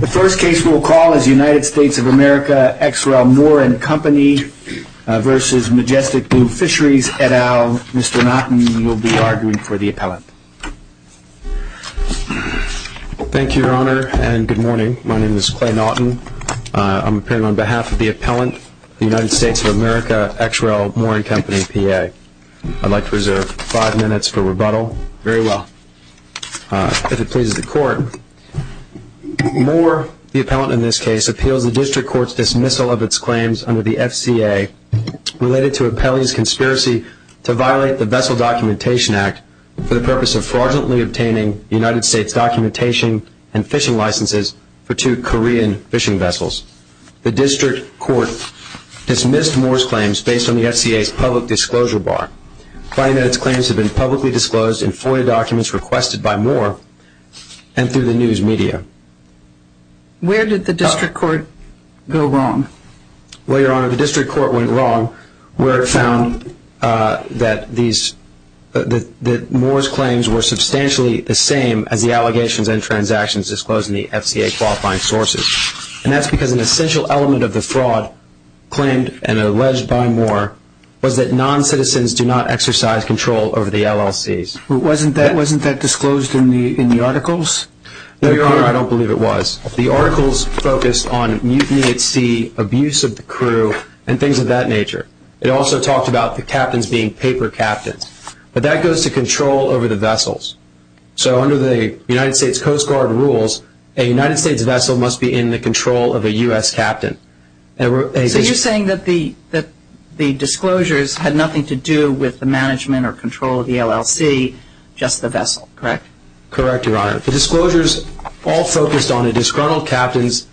The first case we will call is United States of America XREL More&Company v. Majestic Blue Fisheries et al. Mr. Naughton, you will be arguing for the appellant. Thank you, Your Honor, and good morning. My name is Clay Naughton. I'm appearing on behalf of the appellant, the United States of America XREL More&Company PA. Very well, if it pleases the court. More, the appellant in this case, appeals the district court's dismissal of its claims under the FCA related to appellee's conspiracy to violate the Vessel Documentation Act for the purpose of fraudulently obtaining United States documentation and fishing licenses for two Korean fishing vessels. The district court dismissed More's claims based on the FCA's public disclosure bar, finding that its claims had been publicly disclosed in FOIA documents requested by More and through the news media. Where did the district court go wrong? Well, Your Honor, the district court went wrong where it found that More's claims were substantially the same as the allegations and transactions disclosed in the FCA qualifying sources. And that's because an essential element of the fraud claimed and alleged by More was that non-citizens do not exercise control over the LLCs. Wasn't that disclosed in the articles? No, Your Honor, I don't believe it was. The articles focused on mutiny at sea, abuse of the crew, and things of that nature. It also talked about the captains being paper captains. But that goes to control over the vessels. So under the United States Coast Guard rules, a United States vessel must be in the control of a U.S. captain. So you're saying that the disclosures had nothing to do with the management or control of the LLC, just the vessel, correct? Correct, Your Honor. The disclosures all focused on a disgruntled captain's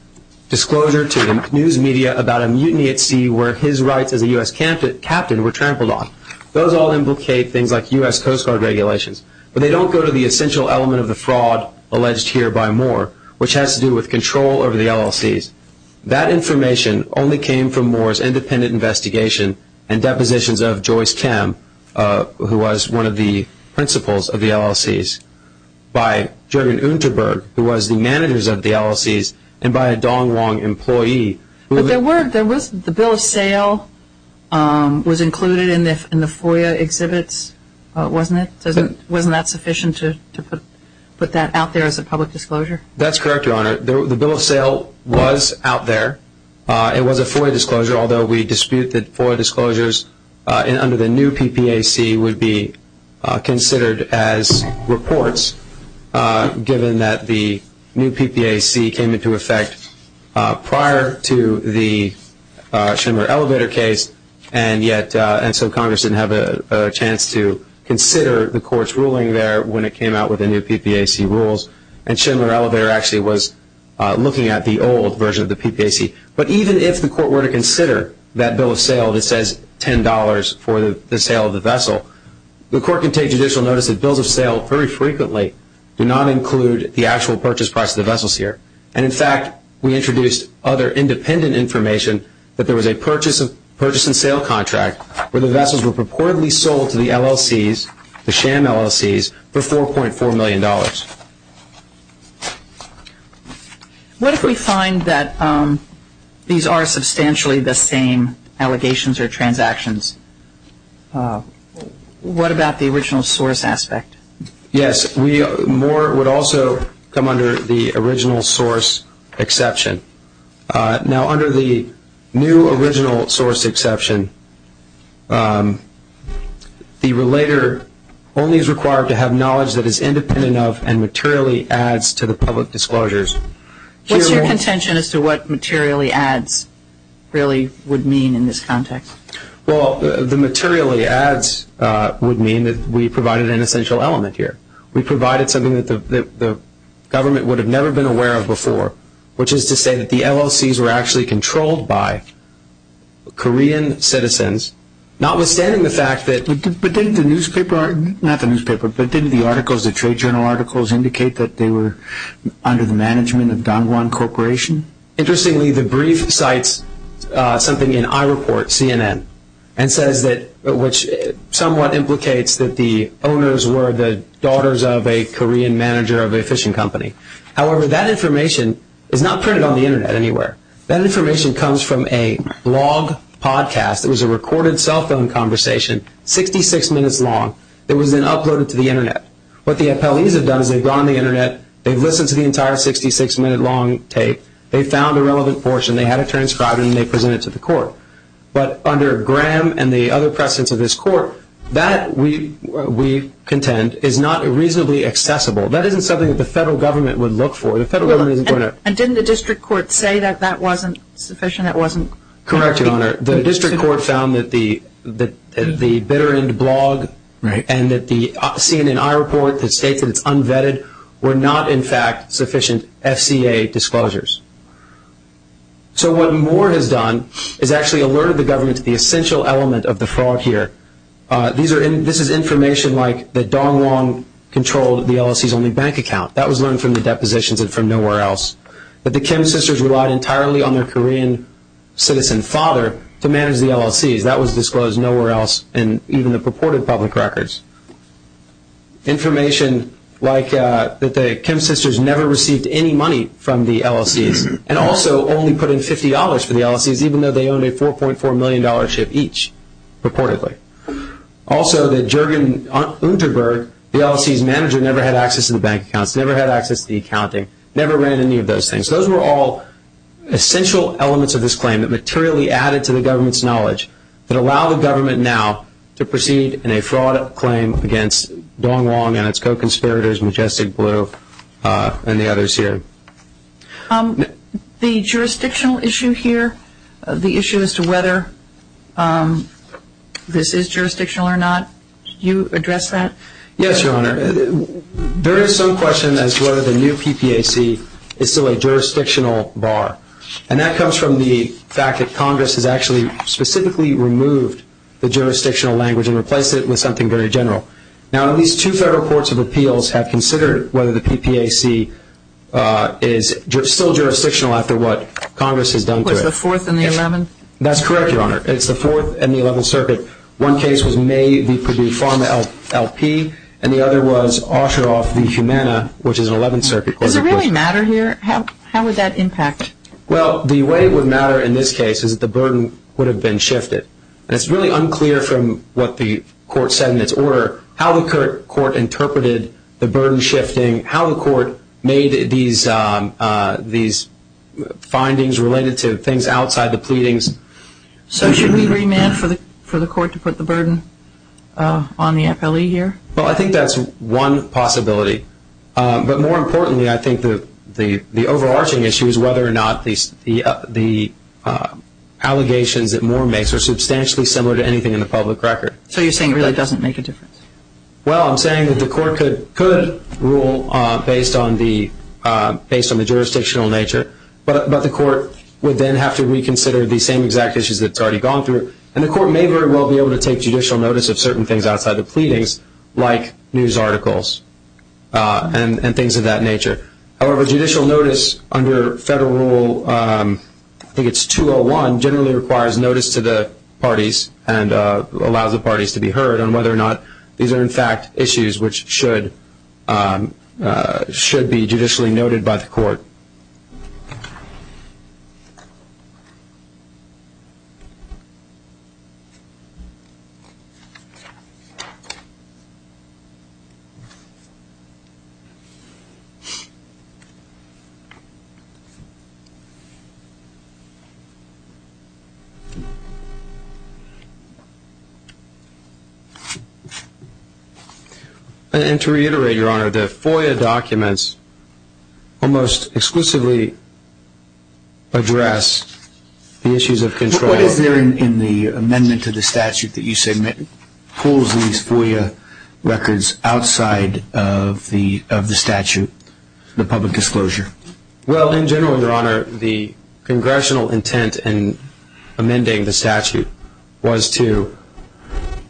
disclosure to the news media about a mutiny at sea where his rights as a U.S. captain were trampled on. Those all implicate things like U.S. Coast Guard regulations. But they don't go to the essential element of the fraud alleged here by More, which has to do with control over the LLCs. That information only came from More's independent investigation and depositions of Joyce Cam, who was one of the principals of the LLCs, by Jergen Unterberg, who was the managers of the LLCs, and by a Dong Wong employee. But the bill of sale was included in the FOIA exhibits, wasn't it? Wasn't that sufficient to put that out there as a public disclosure? That's correct, Your Honor. The bill of sale was out there. It was a FOIA disclosure, although we dispute that FOIA disclosures under the new PPAC would be considered as reports, given that the new PPAC came into effect prior to the Schindler Elevator case, and yet Congress didn't have a chance to consider the court's ruling there when it came out with the new PPAC rules. And Schindler Elevator actually was looking at the old version of the PPAC. But even if the court were to consider that bill of sale that says $10 for the sale of the vessel, the court can take judicial notice that bills of sale very frequently do not include the actual purchase price of the vessels here. And, in fact, we introduced other independent information that there was a purchase and sale contract where the vessels were purportedly sold to the LLCs, the sham LLCs, for $4.4 million. What if we find that these are substantially the same allegations or transactions? What about the original source aspect? Yes, more would also come under the original source exception. Now, under the new original source exception, the relator only is required to have knowledge that is independent of and materially adds to the public disclosures. What's your contention as to what materially adds really would mean in this context? Well, the materially adds would mean that we provided an essential element here. We provided something that the government would have never been aware of before, which is to say that the LLCs were actually controlled by Korean citizens. Notwithstanding the fact that... But didn't the newspaper, not the newspaper, but didn't the articles, the trade journal articles indicate that they were under the management of Don Juan Corporation? And says that, which somewhat implicates that the owners were the daughters of a Korean manager of a fishing company. However, that information is not printed on the Internet anywhere. That information comes from a blog podcast. It was a recorded cell phone conversation, 66 minutes long. It was then uploaded to the Internet. What the appellees have done is they've gone on the Internet, they've listened to the entire 66-minute long tape, they've found a relevant portion, they had it transcribed and they presented it to the court. But under Graham and the other precedents of this court, that, we contend, is not reasonably accessible. That isn't something that the federal government would look for. The federal government isn't going to... And didn't the district court say that that wasn't sufficient? That wasn't... Correct, Your Honor. The district court found that the bitter end blog and that the CNNI report that states that it's unvetted were not, in fact, sufficient FCA disclosures. So what Moore has done is actually alerted the government to the essential element of the fraud here. This is information like that Dong Wong controlled the LLC's only bank account. That was learned from the depositions and from nowhere else. That the Kim sisters relied entirely on their Korean citizen father to manage the LLC's. That was disclosed nowhere else in even the purported public records. Information like that the Kim sisters never received any money from the LLC's and also only put in $50 for the LLC's even though they owned a $4.4 million dollar ship each, purportedly. Also that Juergen Unterberg, the LLC's manager, never had access to the bank accounts, never had access to the accounting, never ran any of those things. Those were all essential elements of this claim that materially added to the government's knowledge that allow the government now to proceed in a fraud claim against Dong Wong and its co-conspirators, Majestic Blue and the others here. The jurisdictional issue here, the issue as to whether this is jurisdictional or not, you address that? Yes, Your Honor. There is some question as to whether the new PPAC is still a jurisdictional bar. And that comes from the fact that Congress has actually specifically removed the jurisdictional language and replaced it with something very general. Now, at least two federal courts of appeals have considered whether the PPAC is still jurisdictional after what Congress has done to it. Was it the Fourth and the Eleventh? That's correct, Your Honor. It's the Fourth and the Eleventh Circuit. One case was May v. Purdue Pharma LP and the other was Osheroff v. Humana, which is an Eleventh Circuit court. Does it really matter here? How would that impact? Well, the way it would matter in this case is that the burden would have been shifted. And it's really unclear from what the court said in its order how the court interpreted the burden shifting, how the court made these findings related to things outside the pleadings. So should we remand for the court to put the burden on the FLE here? Well, I think that's one possibility. But more importantly, I think the overarching issue is whether or not the allegations that Moore makes are substantially similar to anything in the public record. So you're saying it really doesn't make a difference? Well, I'm saying that the court could rule based on the jurisdictional nature, but the court would then have to reconsider the same exact issues that it's already gone through. And the court may very well be able to take judicial notice of certain things outside the pleadings, like news articles and things of that nature. However, judicial notice under Federal Rule, I think it's 201, generally requires notice to the parties and allows the parties to be heard on whether or not these are, in fact, issues which should be judicially noted by the court. And to reiterate, Your Honor, the FOIA documents almost exclusively address the issues of control. But what is there in the amendment to the statute that you submit pulls these FOIA records outside of the statute, the public disclosure? Well, in general, Your Honor, the congressional intent in amending the statute was to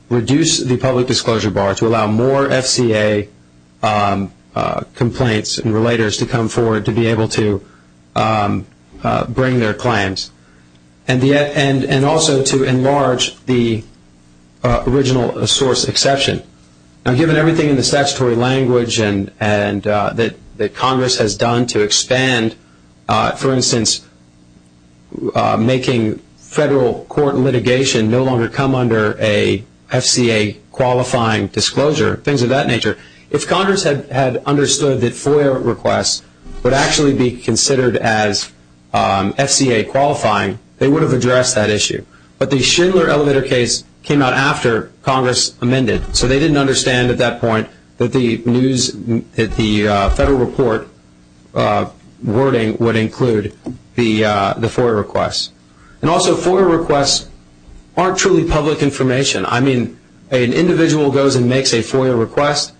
reduce the public disclosure bar, to allow more FCA complaints and relators to come forward to be able to bring their claims, and also to enlarge the original source exception. Now, given everything in the statutory language that Congress has done to expand, for instance, making federal court litigation no longer come under a FCA qualifying disclosure, things of that nature, if Congress had understood that FOIA requests would actually be considered as FCA qualifying, they would have addressed that issue. But the Schindler elevator case came out after Congress amended, so they didn't understand at that point that the federal report wording would include the FOIA requests. And also, FOIA requests aren't truly public information. I mean, an individual goes and makes a FOIA request,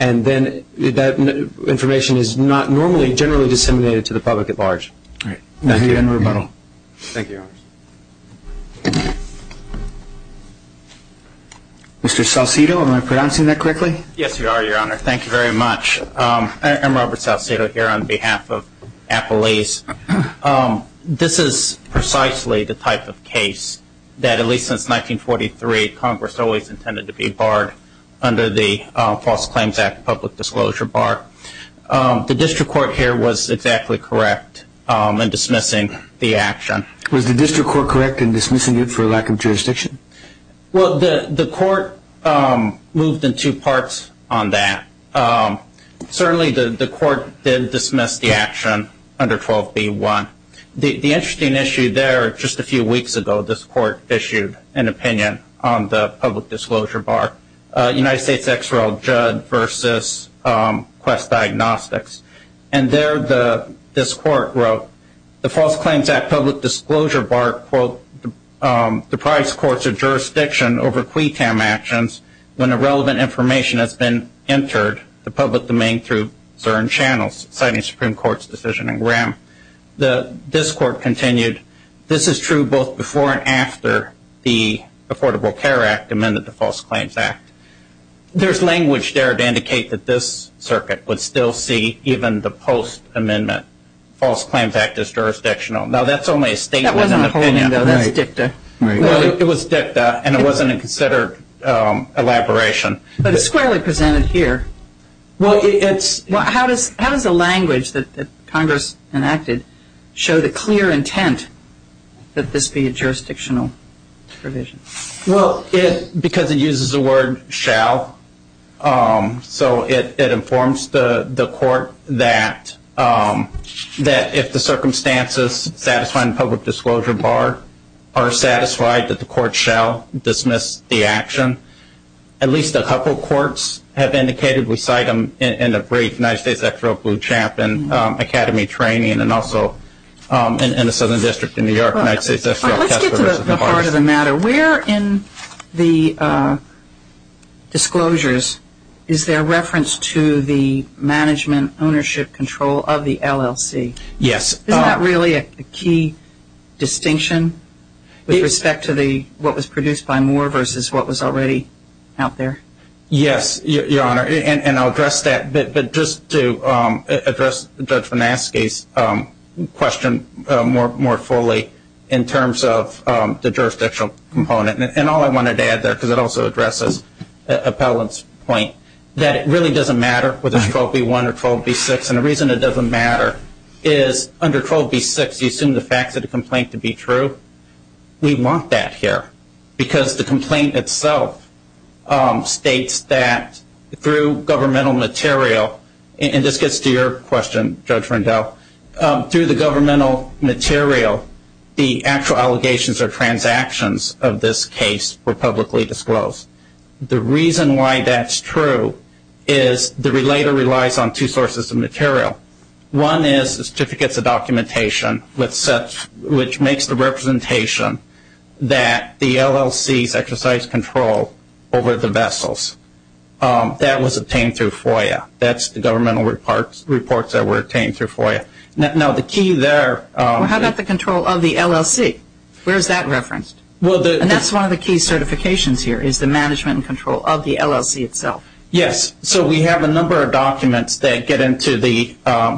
and then that information is not normally generally disseminated to the public at large. Thank you. Thank you, Your Honor. Mr. Salcido, am I pronouncing that correctly? Yes, you are, Your Honor. Thank you very much. I'm Robert Salcido here on behalf of Apple East. This is precisely the type of case that, at least since 1943, Congress always intended to be barred under the False Claims Act public disclosure bar. The district court here was exactly correct in dismissing the action. Was the district court correct in dismissing it for lack of jurisdiction? Well, the court moved in two parts on that. Certainly the court did dismiss the action under 12b-1. The interesting issue there, just a few weeks ago, this court issued an opinion on the public disclosure bar, United States XRL Judd versus Quest Diagnostics. And there this court wrote, the False Claims Act public disclosure bar, quote, the price courts of jurisdiction over QUTAM actions when irrelevant information has been entered the public domain through certain channels, citing Supreme Court's decision in Graham. This court continued, this is true both before and after the Affordable Care Act amended the False Claims Act. There's language there to indicate that this circuit would still see even the post-amendment False Claims Act as jurisdictional. Now, that's only a statement of opinion. That wasn't a whole thing, though. That's dicta. Well, it was dicta, and it wasn't a considered elaboration. But it's squarely presented here. How does the language that Congress enacted show the clear intent that this be a jurisdictional provision? Well, because it uses the word shall. So it informs the court that if the circumstances satisfying the public disclosure bar are satisfied, that the court shall dismiss the action. At least a couple courts have indicated. We cite them in a brief, United States XRL Blue Champ and Academy Training, and also in the Southern District in New York. Let's get to the heart of the matter. Where in the disclosures is there reference to the management ownership control of the LLC? Yes. Isn't that really a key distinction with respect to what was produced by Moore versus what was already out there? Yes, Your Honor, and I'll address that. But just to address Judge Venaske's question more fully in terms of the jurisdictional component, and all I wanted to add there because it also addresses Appellant's point, that it really doesn't matter whether it's 12B1 or 12B6. And the reason it doesn't matter is under 12B6 you assume the facts of the complaint to be true. We want that here. Because the complaint itself states that through governmental material, and this gets to your question, Judge Rendell, through the governmental material, the actual allegations or transactions of this case were publicly disclosed. The reason why that's true is the relator relies on two sources of material. One is certificates of documentation which makes the representation that the LLCs exercise control over the vessels. That was obtained through FOIA. That's the governmental reports that were obtained through FOIA. Now, the key there. How about the control of the LLC? Where is that referenced? And that's one of the key certifications here is the management and control of the LLC itself. Yes. So we have a number of documents that get into the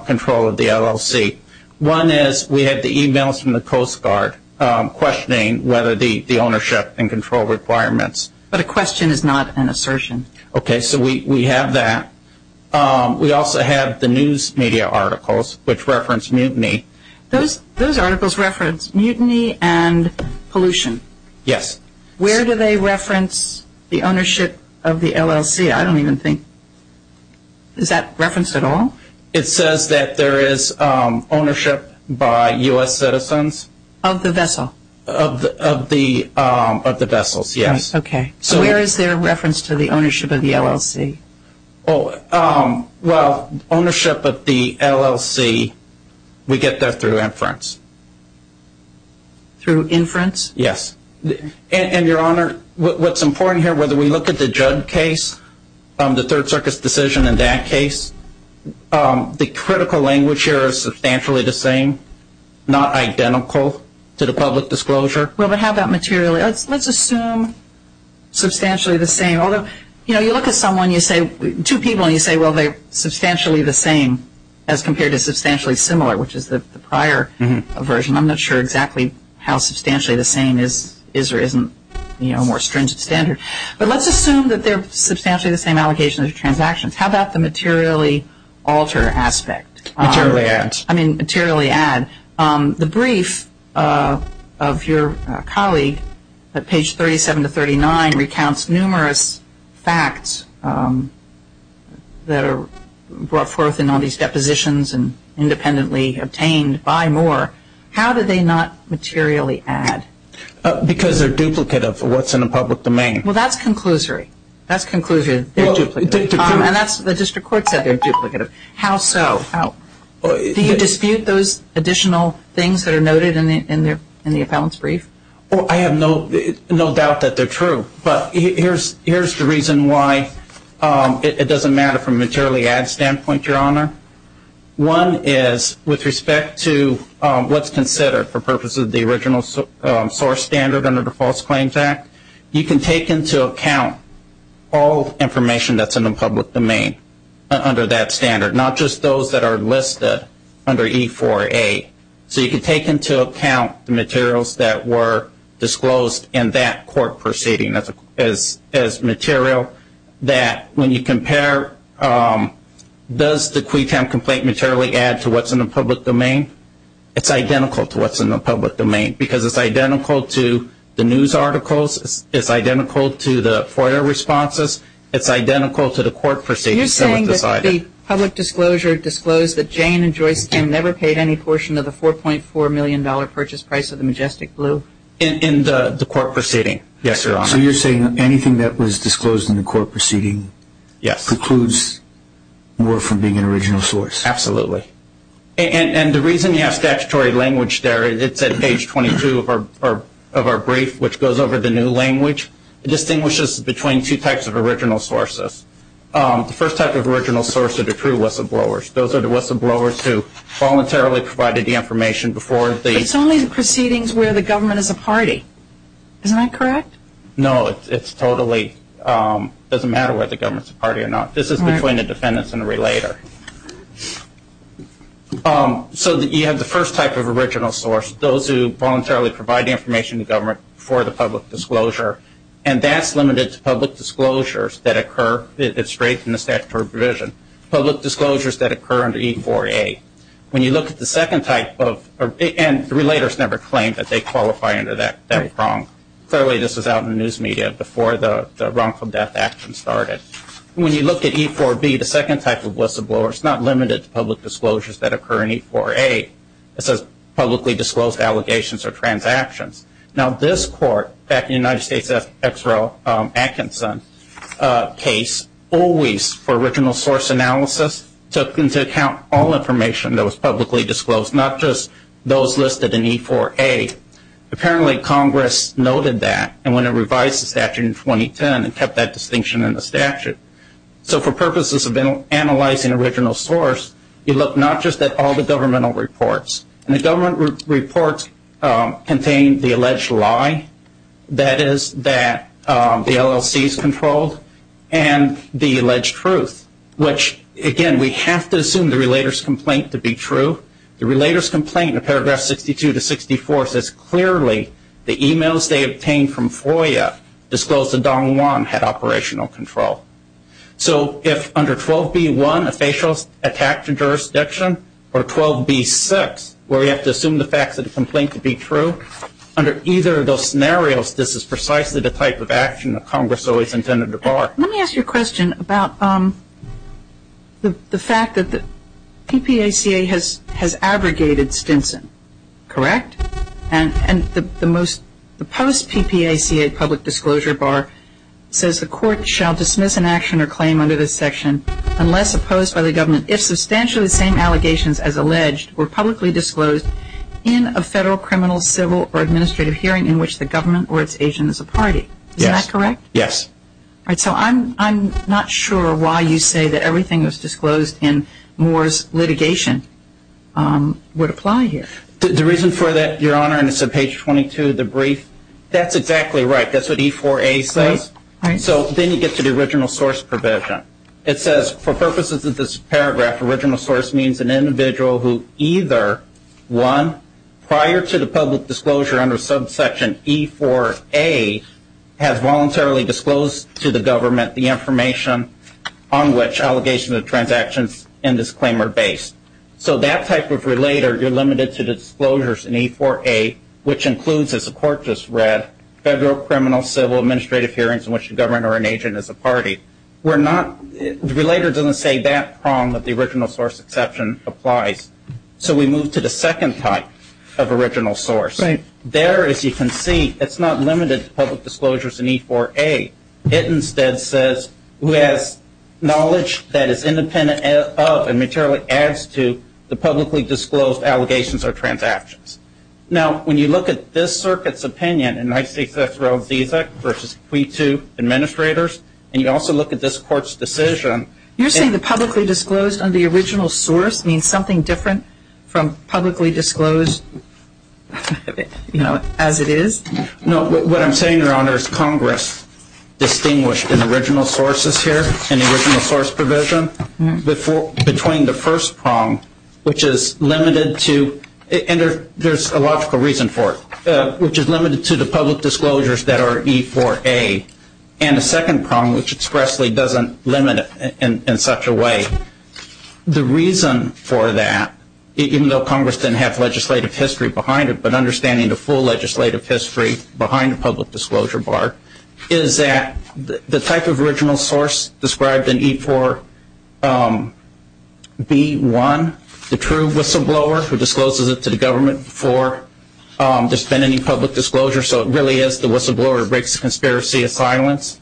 control of the LLC. One is we have the e-mails from the Coast Guard questioning whether the ownership and control requirements. But a question is not an assertion. Okay. So we have that. We also have the news media articles which reference mutiny. Those articles reference mutiny and pollution. Yes. Where do they reference the ownership of the LLC? I don't even think. Is that referenced at all? It says that there is ownership by U.S. citizens. Of the vessel? Of the vessels, yes. Okay. So where is there reference to the ownership of the LLC? Well, ownership of the LLC, we get that through inference. Through inference? Yes. And, Your Honor, what's important here, whether we look at the Judd case, the Third Circus decision in that case, the critical language here is substantially the same, not identical to the public disclosure. Well, but how about materially? Let's assume substantially the same. Although, you know, you look at someone, two people, and you say, well, they're substantially the same as compared to substantially similar, which is the prior version. I'm not sure exactly how substantially the same is or isn't, you know, a more stringent standard. But let's assume that they're substantially the same allocation of transactions. How about the materially alter aspect? Materially add. I mean, materially add. The brief of your colleague at page 37 to 39 recounts numerous facts that are brought forth in all these depositions and independently obtained by Moore. How do they not materially add? Because they're duplicative of what's in a public domain. Well, that's conclusory. That's conclusory. They're duplicative. And the district court said they're duplicative. How so? Do you dispute those additional things that are noted in the appellant's brief? Well, I have no doubt that they're true. But here's the reason why it doesn't matter from a materially add standpoint, Your Honor. One is with respect to what's considered for purposes of the original source standard under the False Claims Act, you can take into account all information that's in the public domain under that standard, not just those that are listed under E4A. So you can take into account the materials that were disclosed in that court proceeding as material that when you compare, does the Quaytown complaint materially add to what's in the public domain? It's identical to what's in the public domain because it's identical to the news articles. It's identical to the FOIA responses. It's identical to the court proceedings that were decided. Did the public disclosure disclose that Jane and Joyce Kim never paid any portion of the $4.4 million purchase price of the Majestic Blue? In the court proceeding, yes, Your Honor. So you're saying anything that was disclosed in the court proceeding precludes more from being an original source? Absolutely. And the reason you have statutory language there, it's at page 22 of our brief, which goes over the new language. It distinguishes between two types of original sources. The first type of original source are the true whistleblowers. Those are the whistleblowers who voluntarily provided the information before the- It's only the proceedings where the government is a party. Isn't that correct? No, it's totally-it doesn't matter whether the government is a party or not. This is between the defendants and the relator. So you have the first type of original source, those who voluntarily provide the information to government for the public disclosure, and that's limited to public disclosures that occur-it's straight from the statutory provision-public disclosures that occur under E-4A. When you look at the second type of-and the relators never claim that they qualify under that prong. Clearly this was out in the news media before the wrongful death action started. When you look at E-4B, the second type of whistleblower, it's not limited to public disclosures that occur in E-4A. It says publicly disclosed allegations or transactions. Now this court, back in the United States Exero Atkinson case, always, for original source analysis, took into account all information that was publicly disclosed, not just those listed in E-4A. Apparently Congress noted that and went and revised the statute in 2010 and kept that distinction in the statute. So for purposes of analyzing original source, you look not just at all the governmental reports. And the government reports contain the alleged lie, that is, that the LLC is controlled, and the alleged truth, which, again, we have to assume the relator's complaint to be true. The relator's complaint in paragraphs 62 to 64 says clearly the e-mails they obtained from FOIA disclosed that Don Juan had operational control. So if under 12B-1, a facial attack to jurisdiction, or 12B-6, where you have to assume the facts of the complaint to be true, under either of those scenarios, this is precisely the type of action that Congress always intended to bar. Let me ask you a question about the fact that the PPACA has abrogated Stinson, correct? And the post-PPACA public disclosure bar says the court shall dismiss an action or claim under this section unless opposed by the government if substantially the same allegations as alleged were publicly disclosed in a federal criminal, civil, or administrative hearing in which the government or its agent is a party. Isn't that correct? Yes. So I'm not sure why you say that everything that was disclosed in Moore's litigation would apply here. The reason for that, Your Honor, and it's on page 22 of the brief, that's exactly right. That's what E-4A says. So then you get to the original source provision. It says, for purposes of this paragraph, original source means an individual who either, one, prior to the public disclosure under subsection E-4A has voluntarily disclosed to the government the information on which allegations of transactions in this claim are based. So that type of relator, you're limited to disclosures in E-4A, which includes, as the court just read, federal, criminal, civil, administrative hearings in which the government or an agent is a party. Relator doesn't say that prong that the original source exception applies. So we move to the second type of original source. There, as you can see, it's not limited to public disclosures in E-4A. It instead says who has knowledge that is independent of and materially adds to the publicly disclosed allegations or transactions. Now, when you look at this circuit's opinion in I-6S Roe v. Deasek v. Quito administrators, and you also look at this court's decision. You're saying the publicly disclosed on the original source means something different from publicly disclosed, you know, as it is? No, what I'm saying, Your Honor, is Congress distinguished in original sources here, in the original source provision, between the first prong, which is limited to, and there's a logical reason for it, which is limited to the public disclosures that are E-4A, and the second prong, which expressly doesn't limit it in such a way. The reason for that, even though Congress didn't have legislative history behind it, but understanding the full legislative history behind the public disclosure bar, is that the type of original source described in E-4B1, the true whistleblower, who discloses it to the government before there's been any public disclosure, so it really is the whistleblower who breaks the conspiracy of silence.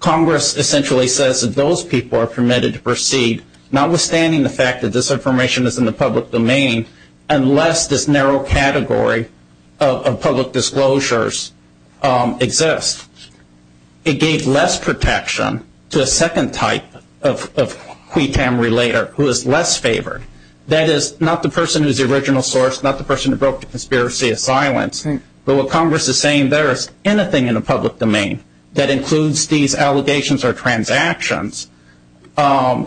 Congress essentially says that those people are permitted to proceed, notwithstanding the fact that this information is in the public domain, unless this narrow category of public disclosures exists. It gave less protection to a second type of qui tam relator, who is less favored. That is, not the person who's the original source, not the person who broke the conspiracy of silence, but what Congress is saying, there is anything in the public domain that includes these allegations or transactions, will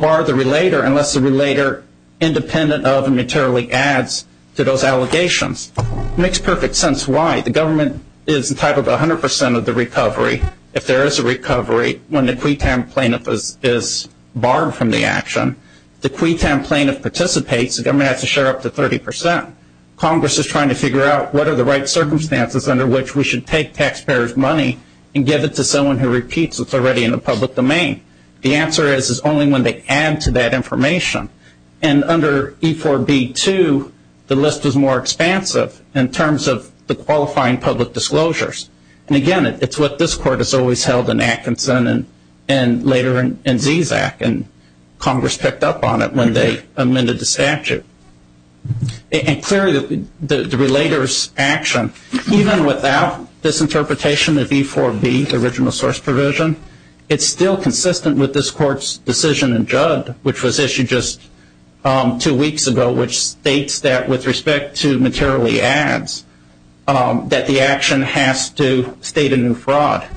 bar the relator unless the relator, independent of and materially adds to those allegations. It makes perfect sense why. The government is entitled to 100% of the recovery. If there is a recovery, when the qui tam plaintiff is barred from the action, the qui tam plaintiff participates, the government has to share up to 30%. Congress is trying to figure out what are the right circumstances under which we should take taxpayers' money and give it to someone who repeats it's already in the public domain. The answer is, is only when they add to that information. And under E4B2, the list is more expansive in terms of the qualifying public disclosures. And again, it's what this court has always held in Atkinson and later in ZZAC, and Congress picked up on it when they amended the statute. And clearly, the relator's action, even without this interpretation of E4B, the original source provision, it's still consistent with this court's decision in Judd, which was issued just two weeks ago, which states that with respect to materially adds, that the action has to state a new fraud.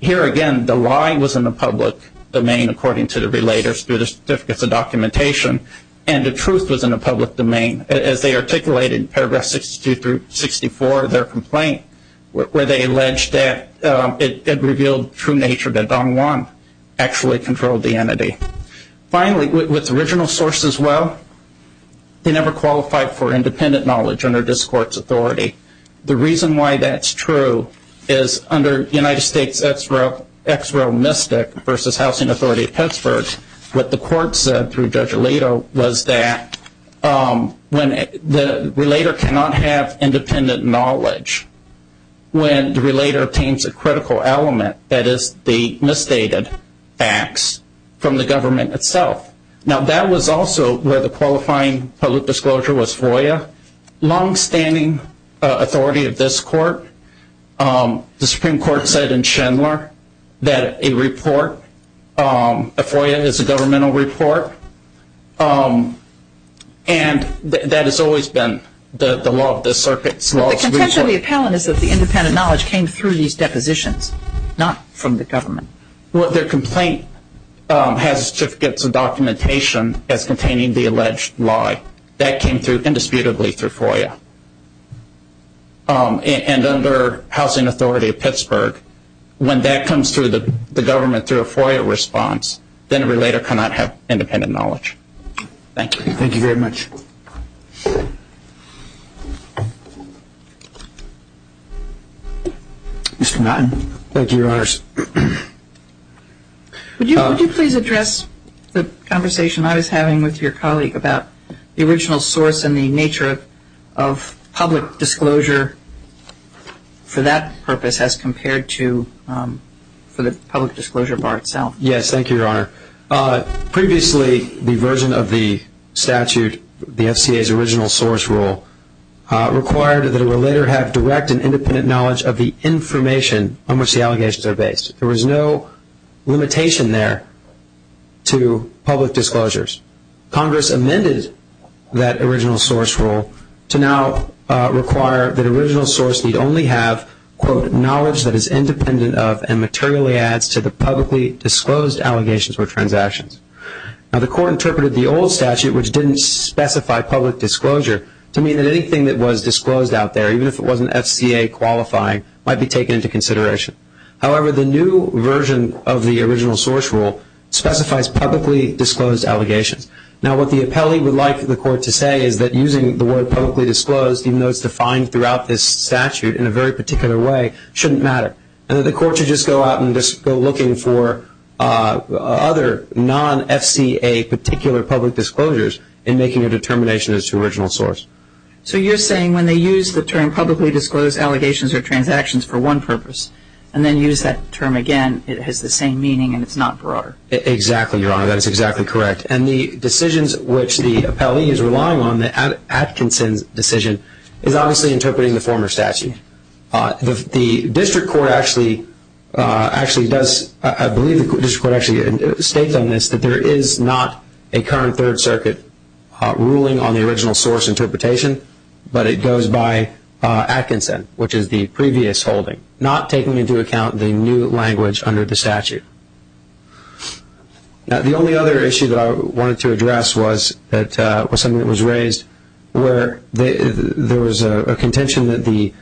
Here again, the lie was in the public domain, according to the relators, through the certificates of documentation, and the truth was in the public domain. As they articulated in paragraph 62 through 64 of their complaint, where they alleged that it revealed true nature that Don Juan actually controlled the entity. Finally, with the original source as well, they never qualified for independent knowledge under this court's authority. The reason why that's true is under United States Ex Rel Mystic versus Housing Authority of Pittsburgh, what the court said through Judge Alito was that the relator cannot have independent knowledge when the relator obtains a critical element, that is the misstated facts from the government itself. Now that was also where the qualifying public disclosure was FOIA. Longstanding authority of this court, the Supreme Court said in Chandler that a report, a FOIA is a governmental report, and that has always been the law of the circuit. So the contention of the appellant is that the independent knowledge came through these depositions, not from the government. Well, their complaint has certificates of documentation as containing the alleged lie. That came through indisputably through FOIA. And under Housing Authority of Pittsburgh, when that comes through the government through a FOIA response, then a relator cannot have independent knowledge. Thank you. Thank you very much. Thank you, Your Honors. Would you please address the conversation I was having with your colleague about the original source and the nature of public disclosure for that purpose as compared to for the public disclosure bar itself? Thank you, Your Honor. Previously, the version of the statute, the FCA's original source rule, required that a relator have direct and independent knowledge of the information on which the allegations are based. There was no limitation there to public disclosures. Congress amended that original source rule to now require that original source need only have, quote, knowledge that is independent of and materially adds to the publicly disclosed allegations or transactions. Now, the court interpreted the old statute, which didn't specify public disclosure, to mean that anything that was disclosed out there, even if it wasn't FCA qualifying, might be taken into consideration. However, the new version of the original source rule specifies publicly disclosed allegations. Now, what the appellee would like the court to say is that using the word publicly disclosed, even though it's defined throughout this statute in a very particular way, shouldn't matter. And that the court should just go out and just go looking for other non-FCA particular public disclosures in making a determination as to original source. So you're saying when they use the term publicly disclosed allegations or transactions for one purpose and then use that term again, it has the same meaning and it's not broader? Exactly, Your Honor. That is exactly correct. And the decisions which the appellee is relying on, the Atkinson's decision, is obviously interpreting the former statute. The district court actually does, I believe the district court actually states on this, that there is not a current Third Circuit ruling on the original source interpretation, but it goes by Atkinson, which is the previous holding, not taking into account the new language under the statute. Now, the only other issue that I wanted to address was something that was raised where there was a contention that the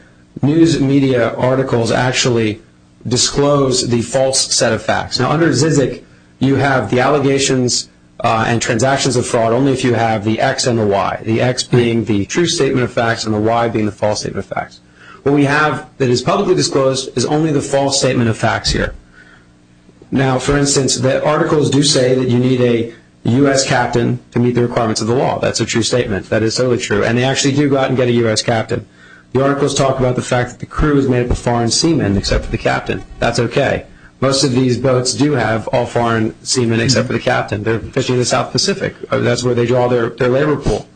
news media articles actually disclose the false set of facts. Now, under ZZIC, you have the allegations and transactions of fraud only if you have the X and the Y, the X being the true statement of facts and the Y being the false statement of facts. What we have that is publicly disclosed is only the false statement of facts here. Now, for instance, the articles do say that you need a U.S. captain to meet the requirements of the law. That's a true statement. That is totally true. And they actually do go out and get a U.S. captain. The articles talk about the fact that the crew is made up of foreign seamen except for the captain. That's okay. Most of these boats do have all foreign seamen except for the captain. They're fishing in the South Pacific. That's where they draw their labor pool.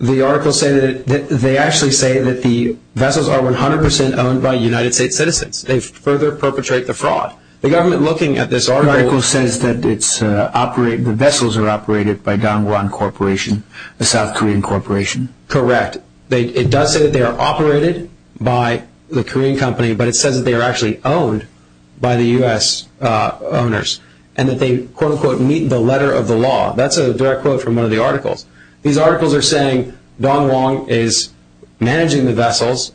The articles say that they actually say that the vessels are 100% owned by United States citizens. They further perpetrate the fraud. The article says that the vessels are operated by Dong Won Corporation, a South Korean corporation. Correct. It does say that they are operated by the Korean company, but it says that they are actually owned by the U.S. owners and that they, quote, unquote, meet the letter of the law. That's a direct quote from one of the articles. These articles are saying Dong Won is managing the vessels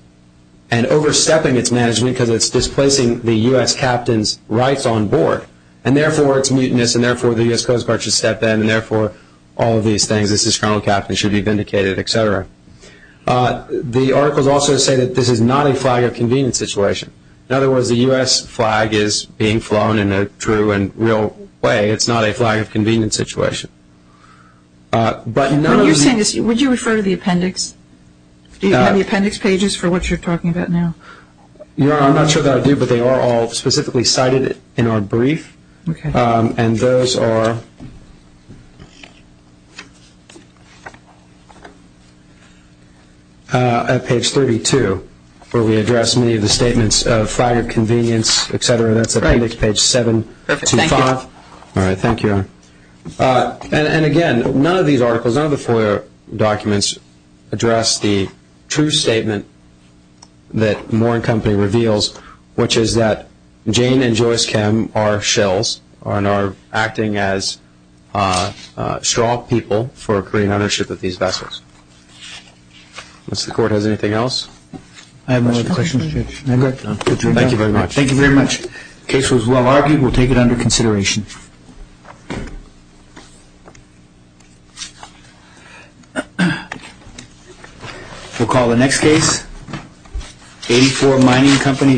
and overstepping its management because it's displacing the U.S. captain's rights on board. And, therefore, it's mutinous, and, therefore, the U.S. Coast Guard should step in, and, therefore, all of these things. This is criminal. Captains should be vindicated, et cetera. The articles also say that this is not a flag of convenience situation. In other words, the U.S. flag is being flown in a true and real way. It's not a flag of convenience situation. But none of the- What you're saying is would you refer to the appendix? Do you have the appendix pages for what you're talking about now? Your Honor, I'm not sure that I do, but they are all specifically cited in our brief. Okay. And those are at page 32 where we address many of the statements of flag of convenience, et cetera. That's appendix page 725. All right. Thank you, Your Honor. And, again, none of these articles, none of the FOIA documents, address the true statement that More and Company reveals, which is that Jane and Joyce Kim are shills and are acting as straw people for Korean ownership of these vessels. Does the Court have anything else? I have no other questions, Judge. Thank you very much. Thank you very much. The case was well argued. We'll take it under consideration. We'll call the next case. 84, Mining Company.